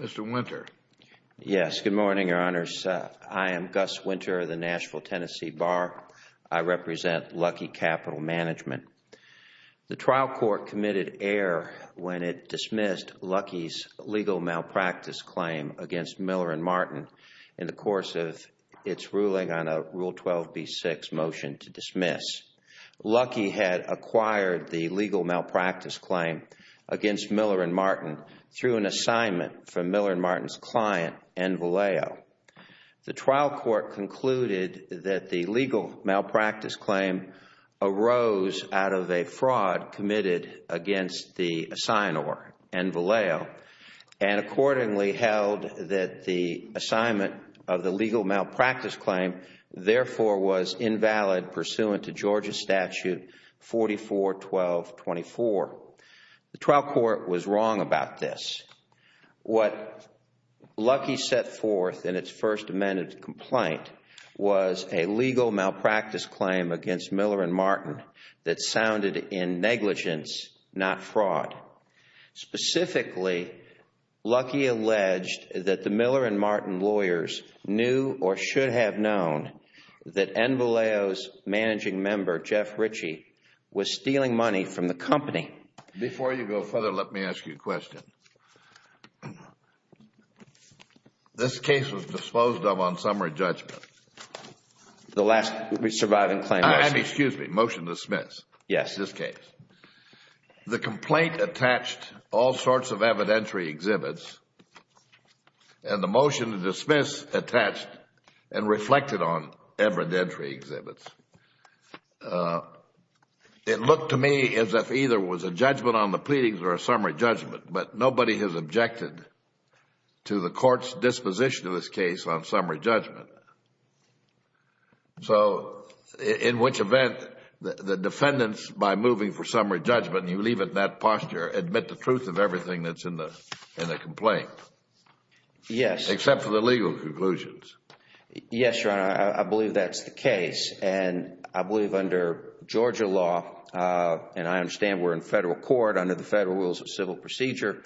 Mr. Winter. Yes, good morning, Your Honors. I am Gus Winter of the Nashville Tennessee Bar. I represent Luckey Capital Management. The trial court committed error when it dismissed Luckey's legal malpractice claim against Miller & Martin in the course of its ruling on a Miller & Martin through an assignment from Miller & Martin's client, Envileo. The trial court concluded that the legal malpractice claim arose out of a fraud committed against the signer, Envileo, and accordingly held that the assignment of the legal malpractice claim therefore was invalid pursuant to Georgia Statute 44.12.24. The trial court was wrong about this. What Luckey set forth in its first amended complaint was a legal malpractice claim against Miller & Martin that sounded in negligence, not fraud. Specifically, Luckey alleged that the Miller & Martin lawyers knew or should have known that Envileo's managing member, Jeff Ritchie, was stealing money from the company. Before you go further, let me ask you a question. This case was disposed of on summary judgment. The last surviving claim, yes. Excuse me, motion to dismiss. Yes. This case. The complaint attached all sorts of evidentiary exhibits and the motion to dismiss attached and reflected on evidentiary exhibits. It looked to me as if either it was a judgment on the pleadings or a summary judgment, but nobody has objected to the court's The defendants, by moving for summary judgment, you leave it in that posture, admit the truth of everything that is in the complaint, except for the legal conclusions. Yes, Your Honor. I believe that is the case. I believe under Georgia law, and I understand we are in federal court under the federal rules of civil procedure,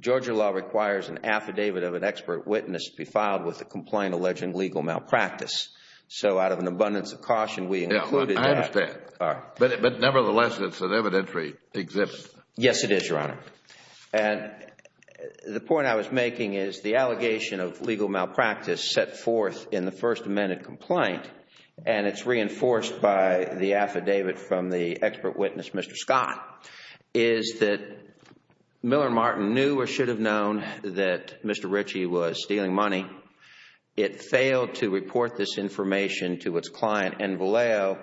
Georgia law requires an affidavit of an expert witness to be filed with the complaint alleging legal malpractice. So out of an abundance of caution, we included that. I understand. But nevertheless, it is an evidentiary exhibit. Yes, it is, Your Honor. The point I was making is the allegation of legal malpractice set forth in the First Amendment complaint and it is reinforced by the affidavit from the expert witness, Mr. Scott, is that Miller and Martin knew or should have known that Mr. Ritchie was stealing money. It failed to report this information to its client, Envaleo,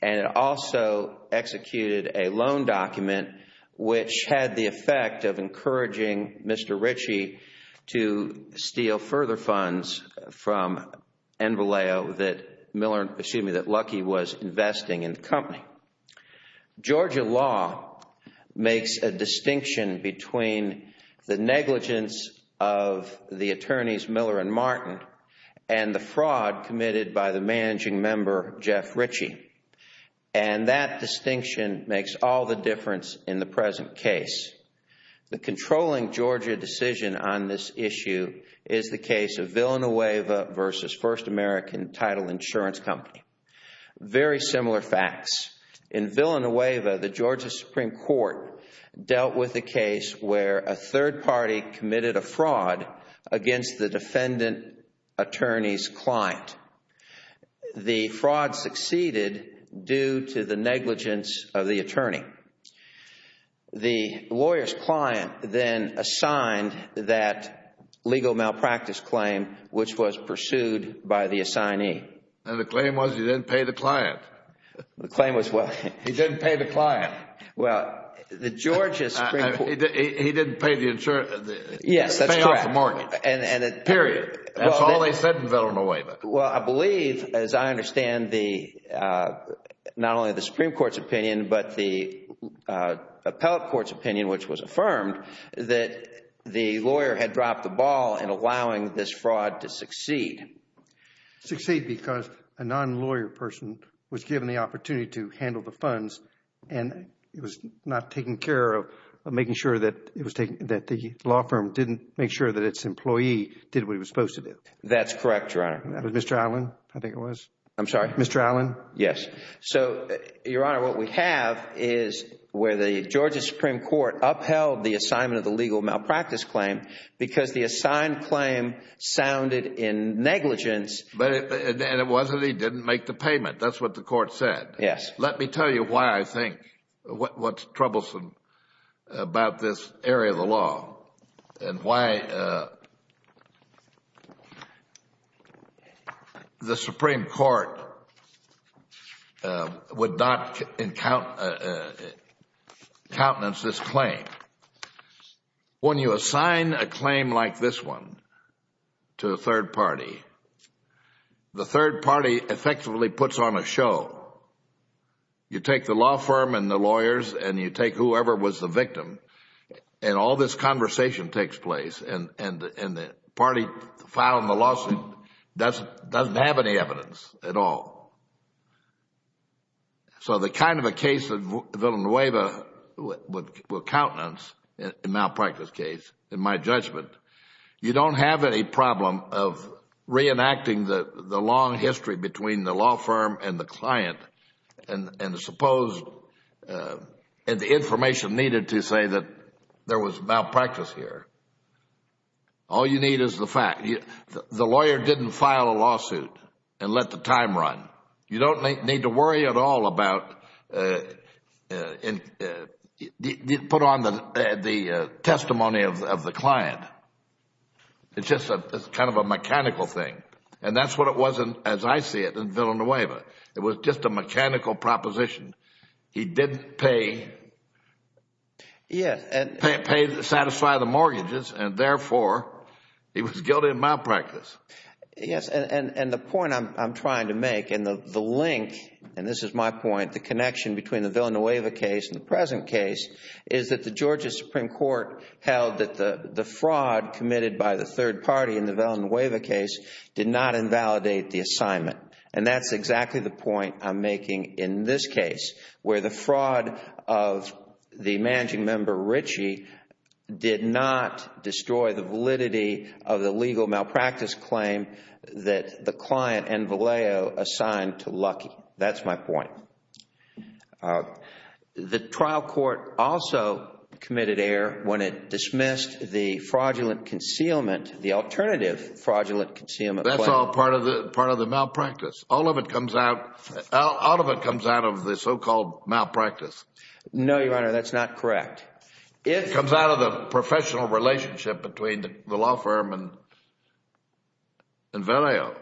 and it also executed a loan document which had the effect of encouraging Mr. Ritchie to steal further funds from Envaleo that Lucky was investing in the company. Georgia law makes a distinction between the negligence of the attorneys, Miller and Martin, and the fraud committed by the managing member, Jeff Ritchie. That distinction makes all the difference in the present case. The controlling Georgia decision on this issue is the case of Villanueva v. First American Title Insurance Company. Very similar facts. In Villanueva, the Georgia Supreme Court dealt with a case where a third party committed a fraud against the defendant attorney's client. The fraud succeeded due to the negligence of the attorney. The lawyer's client then assigned that legal malpractice claim which was pursued by the assignee. And the claim was he didn't pay the client. The claim was what? He didn't pay the client. Well, the Georgia Supreme Court... He didn't pay the insurance... Yes, that's correct. He didn't pay off the mortgage, period. That's all they said in Villanueva. Well, I believe, as I understand, not only the Supreme Court's opinion, but the appellate court's opinion, which was affirmed, that the lawyer had dropped the ball in allowing this fraud to succeed. Succeed because a non-lawyer person was given the opportunity to handle the funds and was not taking care of making sure that the law firm didn't make sure that its employee did what he was supposed to do. That's correct, Your Honor. That was Mr. Allen, I think it was. I'm sorry? Mr. Allen. Yes. So, Your Honor, what we have is where the Georgia Supreme Court upheld the assignment of the legal malpractice claim because the assigned claim sounded in negligence... And it wasn't he didn't make the payment. That's what the court said. Yes. Let me tell you why I think what's troublesome about this area of the law and why the Supreme Court would not countenance this claim. When you assign a claim like this one to a third party, the third party effectively puts on a show. You take the law firm and the lawyers and you take whoever was the victim and all this conversation takes place and the party filing the lawsuit doesn't have any evidence at all. So the kind of a case of Villanueva with countenance, a malpractice case, in my judgment, you don't have any problem of reenacting the long history between the law firm and the client and the information needed to say that there was malpractice here. All you need is the fact. The lawyer didn't file a lawsuit and let the time run. You don't need to worry at all about, put on the testimony of the client. It's just a kind of a mechanical thing and that's what it was as I see it in Villanueva. It was just a mechanical proposition. He didn't pay, satisfy the mortgages and therefore he was guilty of malpractice. Yes, and the point I'm trying to make and the link, and this is my point, the connection between the Villanueva case and the present case is that the Georgia Supreme Court held that the fraud committed by the third party in the Villanueva case did not invalidate the assignment. And that's exactly the point I'm making in this case where the fraud of the managing the malpractice claim that the client and Vallejo assigned to Lucky. That's my point. The trial court also committed error when it dismissed the fraudulent concealment, the alternative fraudulent concealment plan. That's all part of the malpractice. All of it comes out, all of it comes out of the so-called malpractice. No, Your Honor, that's not correct. It comes out of the professional relationship between the law firm and Vallejo.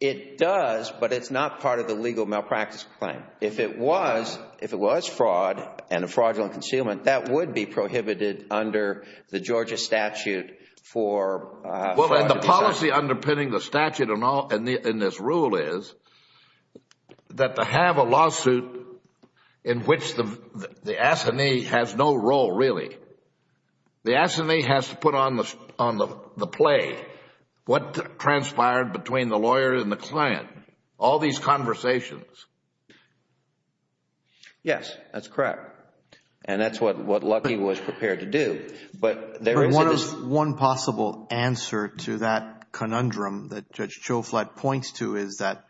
It does, but it's not part of the legal malpractice claim. If it was, if it was fraud and a fraudulent concealment, that would be prohibited under the Georgia statute for fraudulent concealment. Well, and the policy underpinning the statute in this rule is that to have a lawsuit in which the assignee has no role really. The assignee has to put on the play what transpired between the lawyer and the client. All these conversations. Yes, that's correct. And that's what Lucky was prepared to do. But there is... One possible answer to that conundrum that Judge Choflat points to is that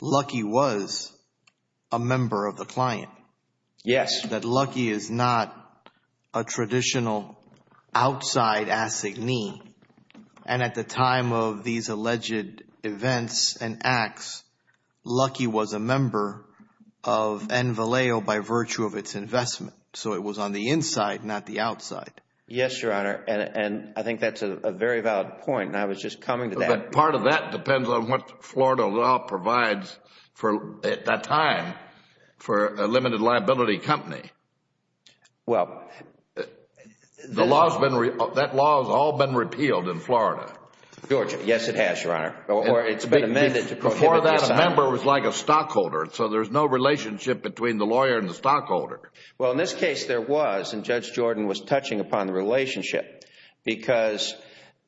Lucky was a member of the client. Yes. That Lucky is not a traditional outside assignee. And at the time of these alleged events and acts, Lucky was a member of N. Vallejo by virtue of its investment. So it was on the inside, not the outside. Yes, Your Honor. And I think that's a very valid point. I was just coming to that. Part of that depends on what Florida law provides for, at that time, for a limited liability company. Well... That law has all been repealed in Florida. Georgia. Yes, it has, Your Honor. Or it's been amended to prohibit... Before that, a member was like a stockholder, so there's no relationship between the lawyer and the stockholder. Well, in this case, there was, and Judge Jordan was touching upon the relationship because...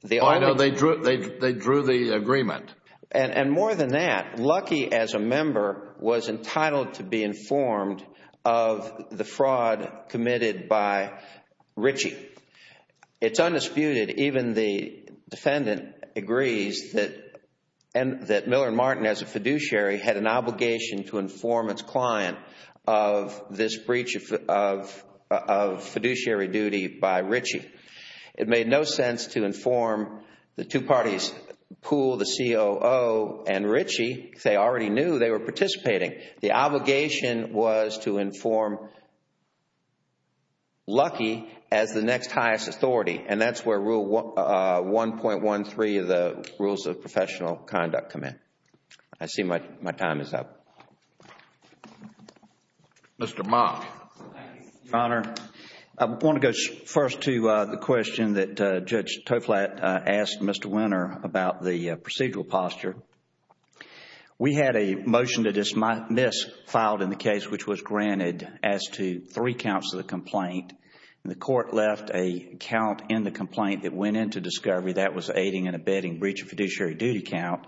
Well, I know they drew the agreement. And more than that, Lucky, as a member, was entitled to be informed of the fraud committed by Ritchie. It's undisputed, even the defendant agrees, that Miller & Martin, as a fiduciary, had an obligation to inform its client of this breach of fiduciary duty by Ritchie. It made no sense to inform the two parties, Poole, the COO, and Ritchie, because they already knew they were participating. The obligation was to inform Lucky as the next highest authority. And that's where Rule 1.13 of the Rules of Professional Conduct come in. I see my time is up. Mr. Mock. Thank you, Your Honor. I want to go first to the question that Judge Toflatt asked Mr. Winner about the procedural posture. We had a motion to dismiss filed in the case which was granted as to three counts of the complaint. The court left a count in the complaint that went into discovery that was aiding and abetting breach of fiduciary duty count.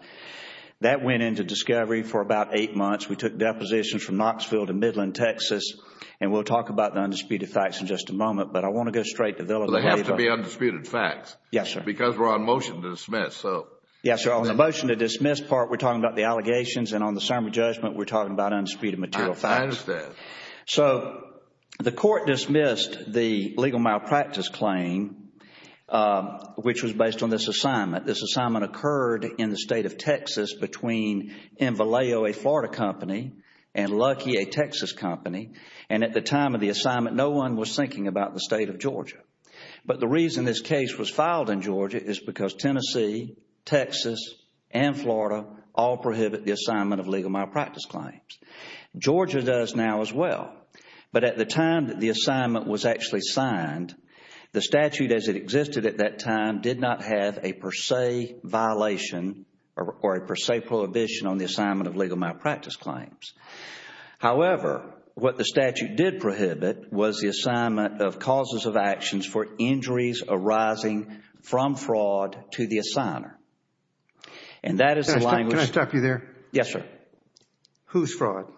That went into discovery for about eight months. We took depositions from Knoxville to Midland, Texas. And we'll talk about the undisputed facts in just a moment. But I want to go straight to Villanova. So they have to be undisputed facts? Yes, sir. Because we're on motion to dismiss. Yes, sir. On the motion to dismiss part, we're talking about the allegations. And on the summary judgment, we're talking about undisputed material facts. I understand. So the court dismissed the legal malpractice claim, which was based on this assignment. This assignment occurred in the state of Texas between Invaleo, a Florida company, and Lucky, a Texas company. And at the time of the assignment, no one was thinking about the state of Georgia. But the reason this case was filed in Georgia is because Tennessee, Texas, and Florida all prohibit the assignment of legal malpractice claims. Georgia does now as well. But at the time that the assignment was actually signed, the statute as it existed at that time did not have a per se violation or a per se prohibition on the assignment of legal malpractice claims. However, what the statute did prohibit was the assignment of causes of actions for injuries arising from fraud to the assigner. And that is the language. Can I stop you there? Yes, sir. Whose fraud?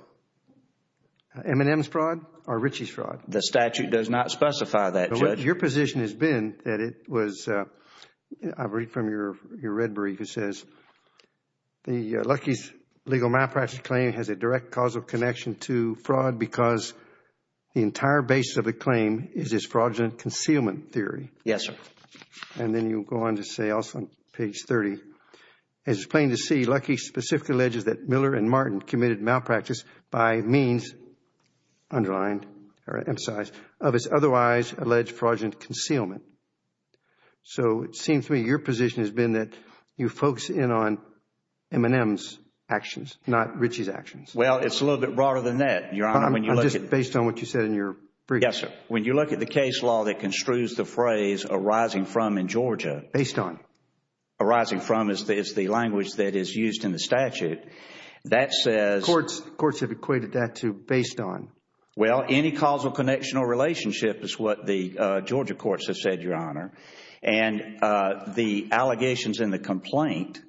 M&M's fraud or Richie's fraud? The statute does not specify that, Judge. Your position has been that it was, I read from your red brief, it says, Lucky's legal malpractice claim has a direct causal connection to fraud because the entire basis of the claim is his fraudulent concealment theory. Yes, sir. And then you go on to say also on page 30, it is plain to see Lucky specifically alleges that Miller and Martin committed malpractice by means, underlined or emphasized, of his otherwise alleged fraudulent concealment. So it seems to me your position has been that you focus in on M&M's actions, not Richie's actions. Well, it is a little bit broader than that, Your Honor. I am just based on what you said in your brief. Yes, sir. When you look at the case law that construes the phrase arising from in Georgia, arising from is the language that is used in the statute. That says Courts have equated that to based on. Well, any causal connection or relationship is what the Georgia courts have said, Your Honor. And the allegations in the complaint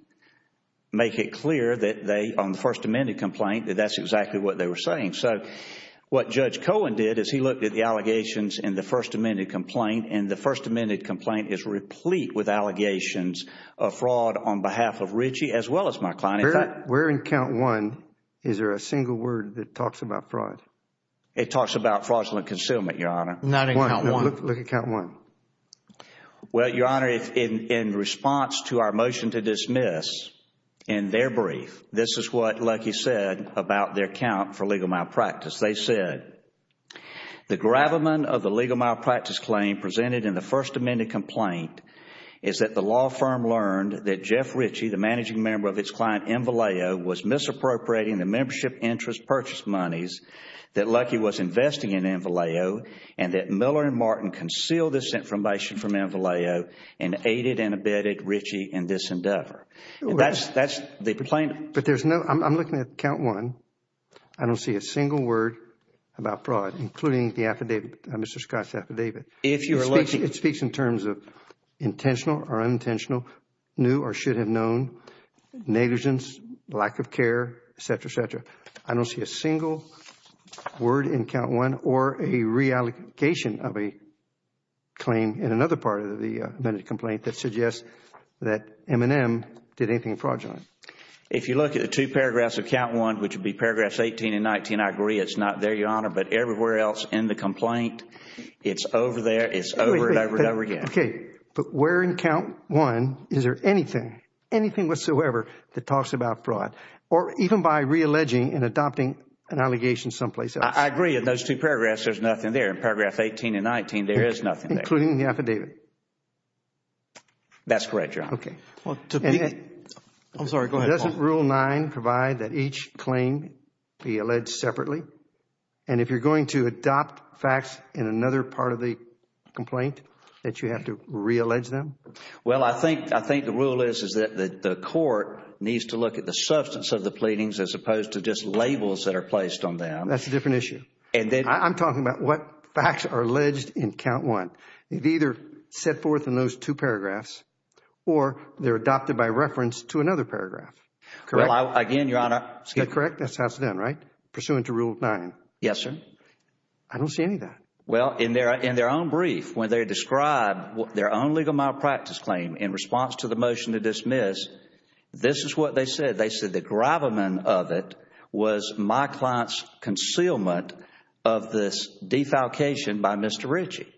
make it clear that they, on the First Amendment complaint, that that is exactly what they were saying. So what Judge Cohen did is he looked at the allegations in the First Amendment complaint and the First Amendment complaint is replete with allegations of fraud on behalf of Richie as well as McClellan. Where in count one is there a single word that talks about fraud? It talks about fraudulent concealment, Your Honor. Not in count one. Look at count one. Well, Your Honor, in response to our motion to dismiss in their brief, this is what Lucky said about their count for legal malpractice. They said, The gravamen of the legal malpractice claim presented in the First Amendment complaint is that the law firm learned that Jeff Richie, the managing member of its client Invaleo, was misappropriating the membership interest purchase monies that Lucky was investing in Invaleo and that Miller and Martin concealed this information from Invaleo and aided and abetted Richie in this endeavor. That's the complaint. But there's no, I'm looking at count one, I don't see a single word about fraud, including the affidavit, Mr. Scott's affidavit. It speaks in terms of intentional or unintentional, new or should have known, negligence, lack of care, et cetera, et cetera. I don't see a single word in count one or a reallocation of a claim in another part of the amended complaint that suggests that M&M did anything fraudulent. If you look at the two paragraphs of count one, which would be paragraphs 18 and 19, I agree it's not there, Your Honor. But everywhere else in the complaint, it's over there, it's over and over and over again. Okay. But where in count one is there anything, anything whatsoever that talks about fraud or even by realleging and adopting an allegation someplace else? I agree in those two paragraphs, there's nothing there. In paragraph 18 and 19, there is nothing there. Including the affidavit? That's correct, Your Honor. Okay. I'm sorry. Go ahead, Paul. Doesn't rule nine provide that each claim be alleged separately? And if you're going to adopt facts in another part of the complaint, that you have to reallege them? Well, I think the rule is that the court needs to look at the substance of the pleadings as opposed to just labels that are placed on them. That's a different issue. I'm talking about what facts are alleged in count one. They've either set forth in those two paragraphs or they're adopted by reference to another paragraph. Correct? Well, again, Your Honor. Is that correct? That's how it's done, right? Pursuant to rule nine. Yes, sir. I don't see any of that. Well, in their own brief, when they describe their own legal malpractice claim in response to the motion to dismiss, this is what they said. They said the gravamen of it was my client's concealment of this defalcation by Mr. Ritchie.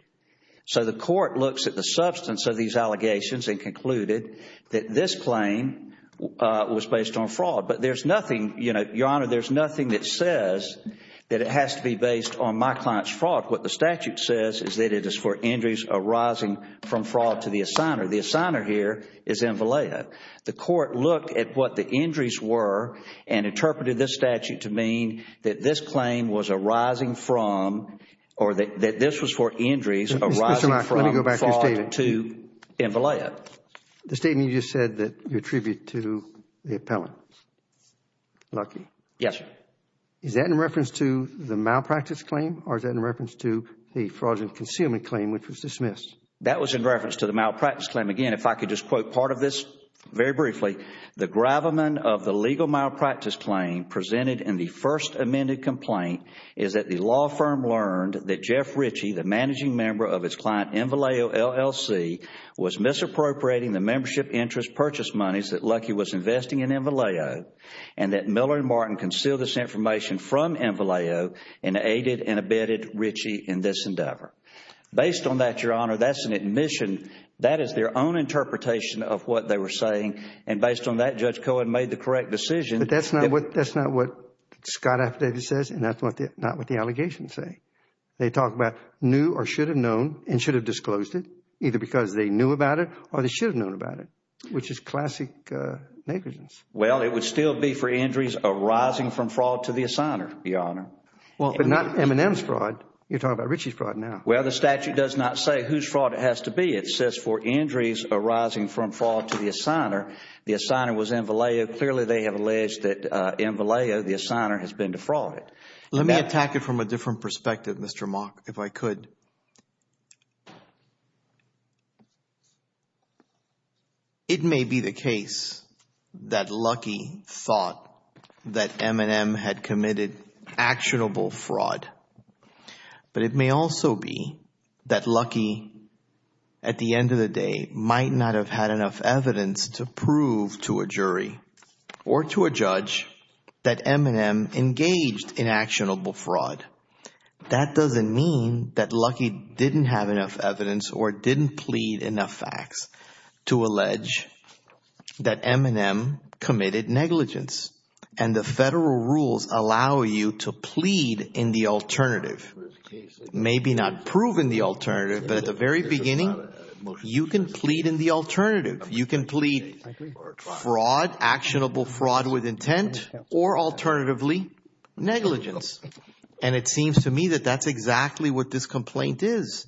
So the court looks at the substance of these allegations and concluded that this claim was based on fraud. But there's nothing, Your Honor, there's nothing that says that it has to be based on my client's fraud. What the statute says is that it is for injuries arising from fraud to the assigner. The assigner here is M. Vallejo. The court looked at what the injuries were and interpreted this statute to mean that this claim was arising from, or that this was for injuries arising from fraud to M. Mr. Knox, let me go back to your statement. The statement you just said that you attribute to the appellant, Lucky? Yes, sir. Is that in reference to the malpractice claim or is that in reference to the fraudulent concealment claim which was dismissed? That was in reference to the malpractice claim. Again, if I could just quote part of this very briefly. The gravamen of the legal malpractice claim presented in the first amended complaint is that the law firm learned that Jeff Ritchie, the managing member of his client M. Vallejo LLC, was misappropriating the membership interest purchase monies that Lucky was investing in M. Vallejo and that Miller and Martin concealed this information from M. Vallejo and aided and abetted Ritchie in this endeavor. Based on that, Your Honor, that's an admission, that is their own interpretation of what they were saying and based on that, Judge Cohen made the correct decision. That's not what Scott affidavit says and that's not what the allegations say. They talk about knew or should have known and should have disclosed it, either because they knew about it or they should have known about it, which is classic negligence. Well, it would still be for injuries arising from fraud to the assigner, Your Honor. Not M&M's fraud. You're talking about Ritchie's fraud now. Well, the statute does not say whose fraud it has to be. It says for injuries arising from fraud to the assigner, the assigner was M. Vallejo. Clearly they have alleged that M. Vallejo, the assigner, has been defrauded. Let me attack it from a different perspective, Mr. Mock, if I could. It may be the case that Lucky thought that M&M had committed actionable fraud, but it at the end of the day, might not have had enough evidence to prove to a jury or to a judge that M&M engaged in actionable fraud. That doesn't mean that Lucky didn't have enough evidence or didn't plead enough facts to allege that M&M committed negligence and the federal rules allow you to plead in the alternative. Maybe not prove in the alternative, but at the very beginning, you can plead in the alternative. You can plead fraud, actionable fraud with intent, or alternatively, negligence. And it seems to me that that's exactly what this complaint is.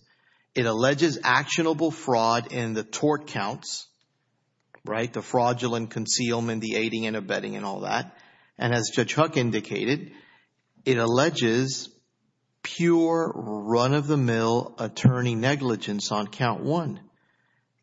It alleges actionable fraud in the tort counts, right, the fraudulent concealment, the aiding and abetting and all that. And as Judge Huck indicated, it alleges pure run-of-the-mill attorney negligence on count one.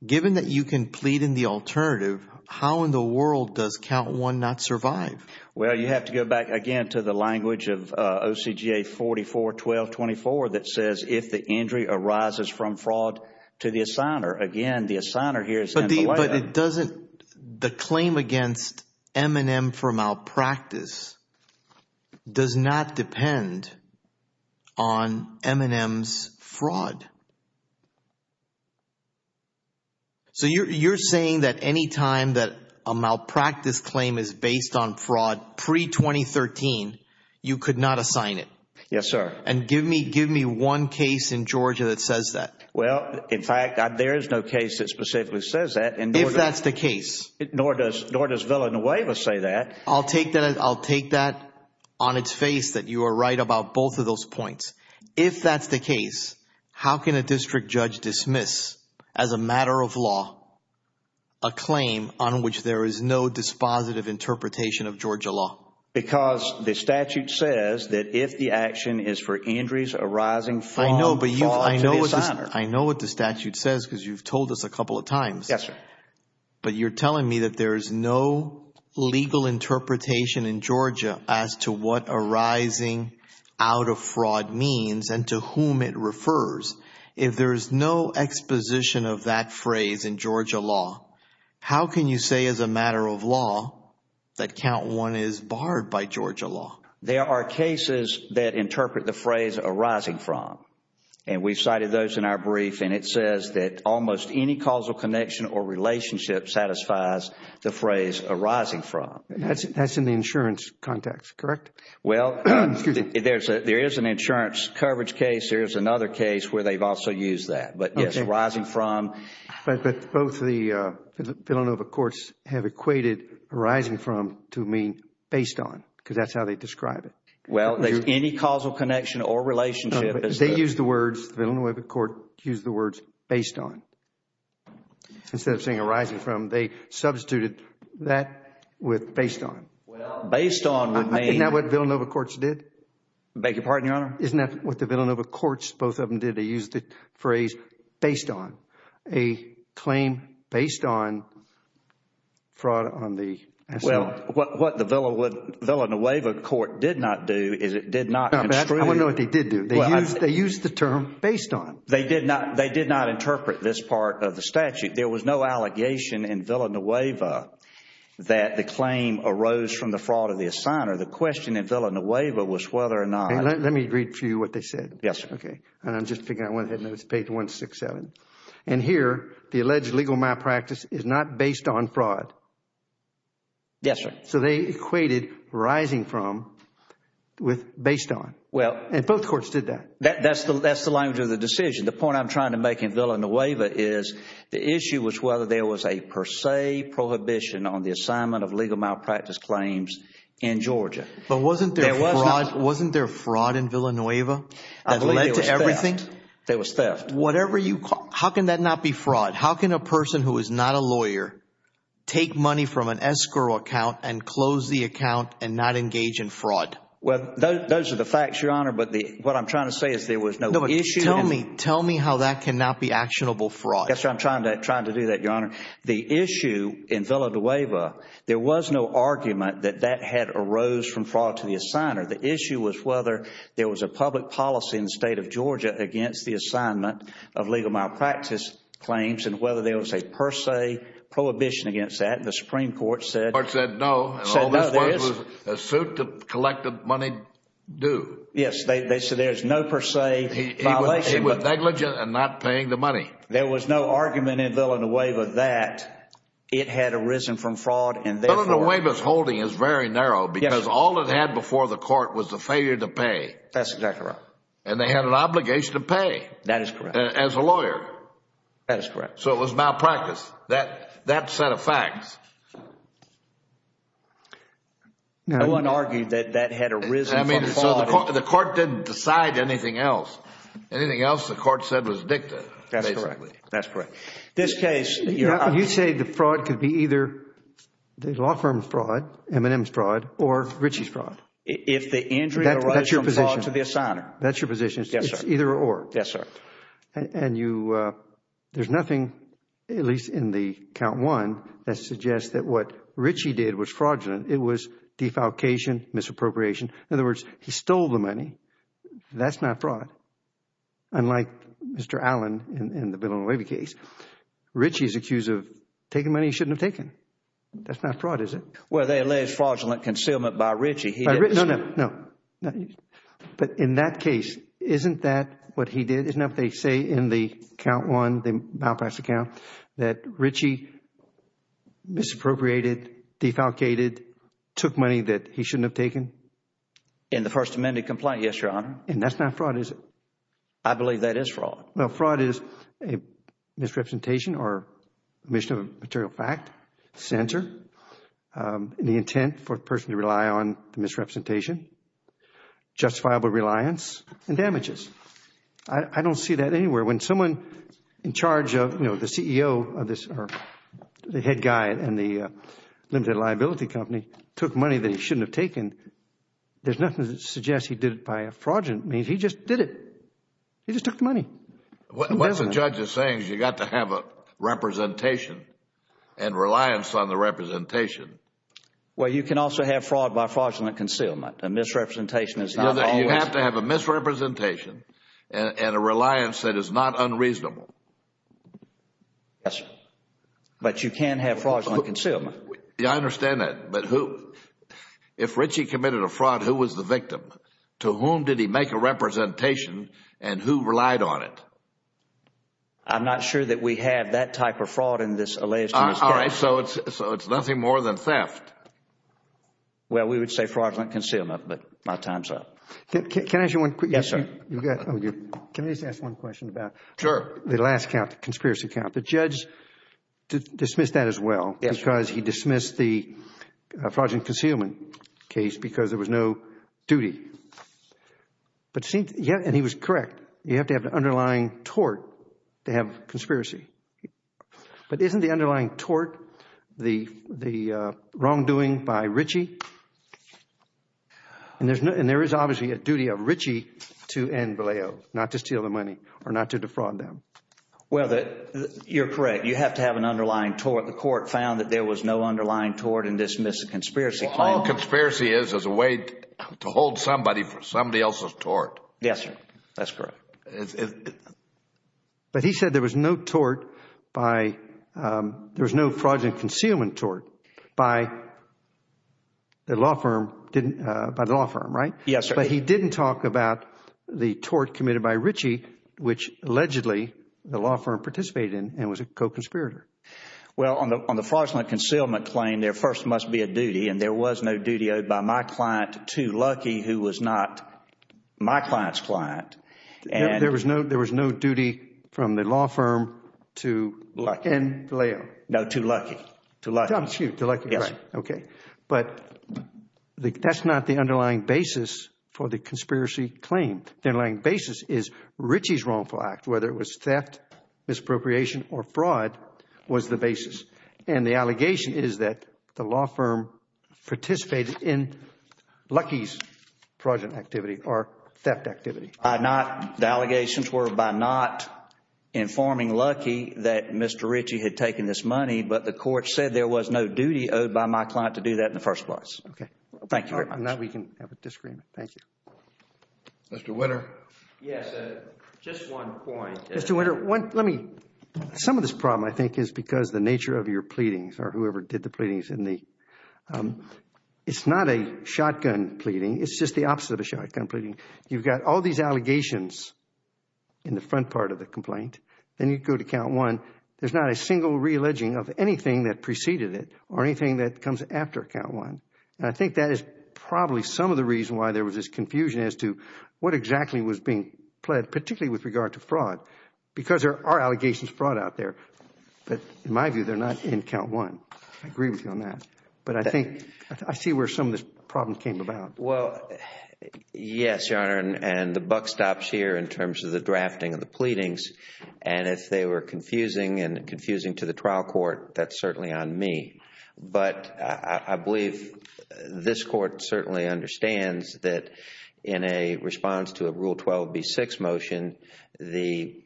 Given that you can plead in the alternative, how in the world does count one not survive? Well, you have to go back again to the language of OCGA 44-1224 that says, if the injury arises from fraud to the assigner, again, the assigner here is in the way. But it doesn't, the claim against M&M for malpractice does not depend on M&M's fraud. So you're saying that any time that a malpractice claim is based on fraud pre-2013, you could not assign it? Yes, sir. And give me one case in Georgia that says that. Well, in fact, there is no case that specifically says that. If that's the case. Nor does Villanueva say that. I'll take that on its face that you are right about both of those points. If that's the case, how can a district judge dismiss as a matter of law a claim on which there is no dispositive interpretation of Georgia law? Because the statute says that if the action is for injuries arising from fraud to the I know what the statute says because you've told us a couple of times. Yes, sir. But you're telling me that there is no legal interpretation in Georgia as to what arising out of fraud means and to whom it refers. If there is no exposition of that phrase in Georgia law, how can you say as a matter of law that count one is barred by Georgia law? There are cases that interpret the phrase arising from. And we've cited those in our brief and it says that almost any causal connection or relationship satisfies the phrase arising from. That's in the insurance context, correct? Well, there is an insurance coverage case. There is another case where they've also used that. But yes, arising from. But both the Villanueva courts have equated arising from to mean based on because that's how they describe it. Well, there's any causal connection or relationship. They use the words, the Villanueva court used the words based on instead of saying arising from. They substituted that with based on. Based on would mean. Isn't that what the Villanueva courts did? I beg your pardon, Your Honor? Isn't that what the Villanueva courts, both of them, did? They used the phrase based on. A claim based on fraud on the asset. Well, what the Villanueva court did not do is it did not. I want to know what they did do. They used the term based on. They did not. They did not interpret this part of the statute. There was no allegation in Villanueva that the claim arose from the fraud of the assigner. The question in Villanueva was whether or not. Let me read for you what they said. Yes, sir. Okay. And I'm just figuring out one thing. It's page 167. And here, the alleged legal malpractice is not based on fraud. Yes, sir. So they equated rising from with based on. And both courts did that. That's the language of the decision. The point I'm trying to make in Villanueva is the issue was whether there was a per se prohibition on the assignment of legal malpractice claims in Georgia. But wasn't there fraud in Villanueva that led to everything? There was theft. There was theft. There was theft. How can that not be fraud? How can a person who is not a lawyer take money from an escrow account and close the account and not engage in fraud? Well, those are the facts, Your Honor. But what I'm trying to say is there was no issue. Tell me how that cannot be actionable fraud. Yes, sir. I'm trying to do that, Your Honor. The issue in Villanueva, there was no argument that that had arose from fraud to the assigner. The issue was whether there was a public policy in the state of Georgia against the assignment of legal malpractice claims and whether there was a per se prohibition against that. The Supreme Court said... The Supreme Court said no. Said no, there isn't. And all this was a suit to collect the money due. Yes. They said there's no per se violation. He was negligent and not paying the money. There was no argument in Villanueva that it had arisen from fraud and therefore... All it had before the court was the failure to pay. That's exactly right. And they had an obligation to pay. That is correct. As a lawyer. That is correct. So it was malpractice. That set of facts... No one argued that that had arisen from fraud. I mean, so the court didn't decide anything else. Anything else the court said was dicta, basically. That's correct. That's correct. This case, Your Honor... If the injury... That's your position. ...arises from fraud to the assigner. That's your position. Yes, sir. It's either or. Yes, sir. And you... There's nothing, at least in the count one, that suggests that what Ritchie did was fraudulent. It was defalcation, misappropriation. In other words, he stole the money. That's not fraud, unlike Mr. Allen in the Villanueva case. Ritchie is accused of taking money he shouldn't have taken. That's not fraud, is it? Well, they allege fraudulent concealment by Ritchie. He didn't... No, no, no. But in that case, isn't that what he did? Isn't that what they say in the count one, the malpractice account, that Ritchie misappropriated, defalcated, took money that he shouldn't have taken? In the First Amendment complaint, yes, Your Honor. And that's not fraud, is it? I believe that is fraud. Well, fraud is a misrepresentation or omission of a material fact, censor, the intent for a person to rely on the misrepresentation, justifiable reliance and damages. I don't see that anywhere. When someone in charge of, you know, the CEO of this or the head guy in the limited liability company took money that he shouldn't have taken, there's nothing that suggests he did it by a fraudulent means. He just did it. He just took the money. Who doesn't? What the judge is saying is you've got to have a representation and reliance on the representation. Well, you can also have fraud by fraudulent concealment. A misrepresentation is not always... You have to have a misrepresentation and a reliance that is not unreasonable. Yes, but you can have fraudulent concealment. I understand that, but who... If Ritchie committed a fraud, who was the victim? To whom did he make a representation and who relied on it? I'm not sure that we have that type of fraud in this Alias to Misdemeanor case. All right, so it's nothing more than theft. Well, we would say fraudulent concealment, but my time is up. Can I ask you one quick question? Yes, sir. Can I just ask one question about the last conspiracy count? The judge dismissed that as well because he dismissed the fraudulent concealment case because there was no duty, and he was correct. You have to have the underlying tort to have conspiracy, but isn't the underlying tort the wrongdoing by Ritchie? There is obviously a duty of Ritchie to end Valeo, not to steal the money or not to defraud them. Well, you're correct. You have to have an underlying tort. The court found that there was no underlying tort in this misconspiracy claim. The underlying conspiracy is as a way to hold somebody for somebody else's tort. Yes, sir. That's correct. But he said there was no tort by, there was no fraudulent concealment tort by the law firm, by the law firm, right? Yes, sir. But he didn't talk about the tort committed by Ritchie, which allegedly the law firm participated in and was a co-conspirator. Well, on the fraudulent concealment claim, there first must be a duty, and there was no duty owed by my client, Too Lucky, who was not my client's client. There was no duty from the law firm to end Valeo? No, Too Lucky. Too Lucky. Too Lucky, right. Yes. Okay. But that's not the underlying basis for the conspiracy claim. The underlying basis is Ritchie's wrongful act, whether it was theft, misappropriation or fraud was the basis. And the allegation is that the law firm participated in Lucky's fraudulent activity or theft activity. The allegations were by not informing Lucky that Mr. Ritchie had taken this money, but the court said there was no duty owed by my client to do that in the first place. Okay. Thank you very much. Now we can have a disagreement. Thank you. Mr. Winter. Yes. Just one point. Mr. Winter, let me, some of this problem, I think, is because the nature of your pleadings or whoever did the pleadings in the, it's not a shotgun pleading. It's just the opposite of a shotgun pleading. You've got all these allegations in the front part of the complaint, then you go to count one. There's not a single re-alleging of anything that preceded it or anything that comes after count one. And I think that is probably some of the reason why there was this confusion as to what exactly was being pled, particularly with regard to fraud, because there are allegations brought out there. But in my view, they're not in count one. I agree with you on that. But I think, I see where some of this problem came about. Well, yes, Your Honor, and the buck stops here in terms of the drafting of the pleadings. And if they were confusing and confusing to the trial court, that's certainly on me. But I believe this Court certainly understands that in a response to a Rule 12b6 motion, the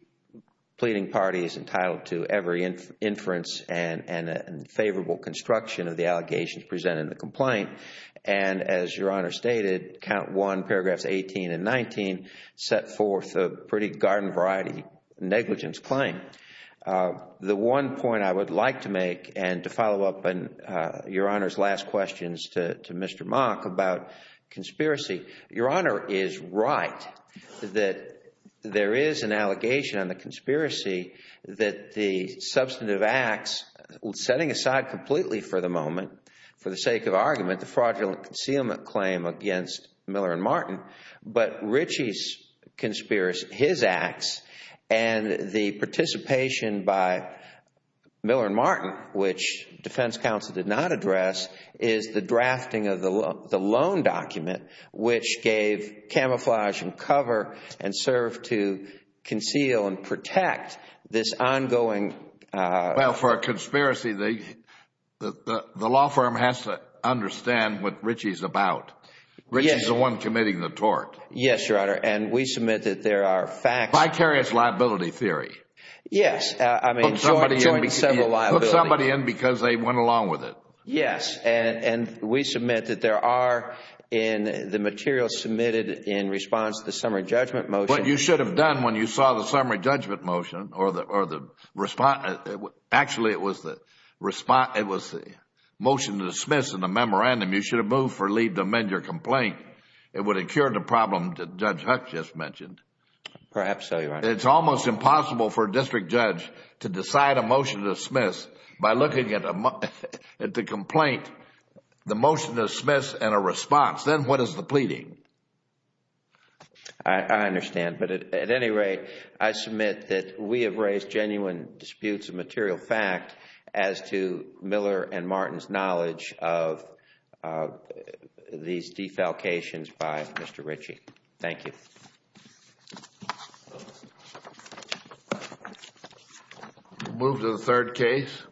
pleading party is entitled to every inference and favorable construction of the allegations presented in the complaint. And as Your Honor stated, count one, paragraphs 18 and 19, set forth a pretty garden variety negligence claim. And the one point I would like to make, and to follow up on Your Honor's last questions to Mr. Mock about conspiracy, Your Honor is right that there is an allegation on the conspiracy that the substantive acts, setting aside completely for the moment, for the sake of argument, the fraudulent concealment claim against Miller and Martin, but Ritchie's conspiracy, his participation by Miller and Martin, which defense counsel did not address, is the drafting of the loan document which gave camouflage and cover and served to conceal and protect this ongoing Well, for a conspiracy, the law firm has to understand what Ritchie is about. Ritchie is the one committing the tort. Yes, Your Honor, and we submit that there are facts Vicarious liability theory. Yes, I mean, joint and several liabilities. Put somebody in because they went along with it. Yes, and we submit that there are in the material submitted in response to the summary judgment motion What you should have done when you saw the summary judgment motion or the response, actually it was the motion to dismiss in the memorandum, you should have moved for leave to amend your complaint. It would have cured the problem that Judge Huck just mentioned. Perhaps so, Your Honor. It's almost impossible for a district judge to decide a motion to dismiss by looking at the complaint, the motion to dismiss, and a response. Then what is the pleading? I understand, but at any rate, I submit that we have raised genuine disputes of material fact as to Miller and Martin's knowledge of these defalcations by Mr. Ritchie. Thank you. We'll move to the third case.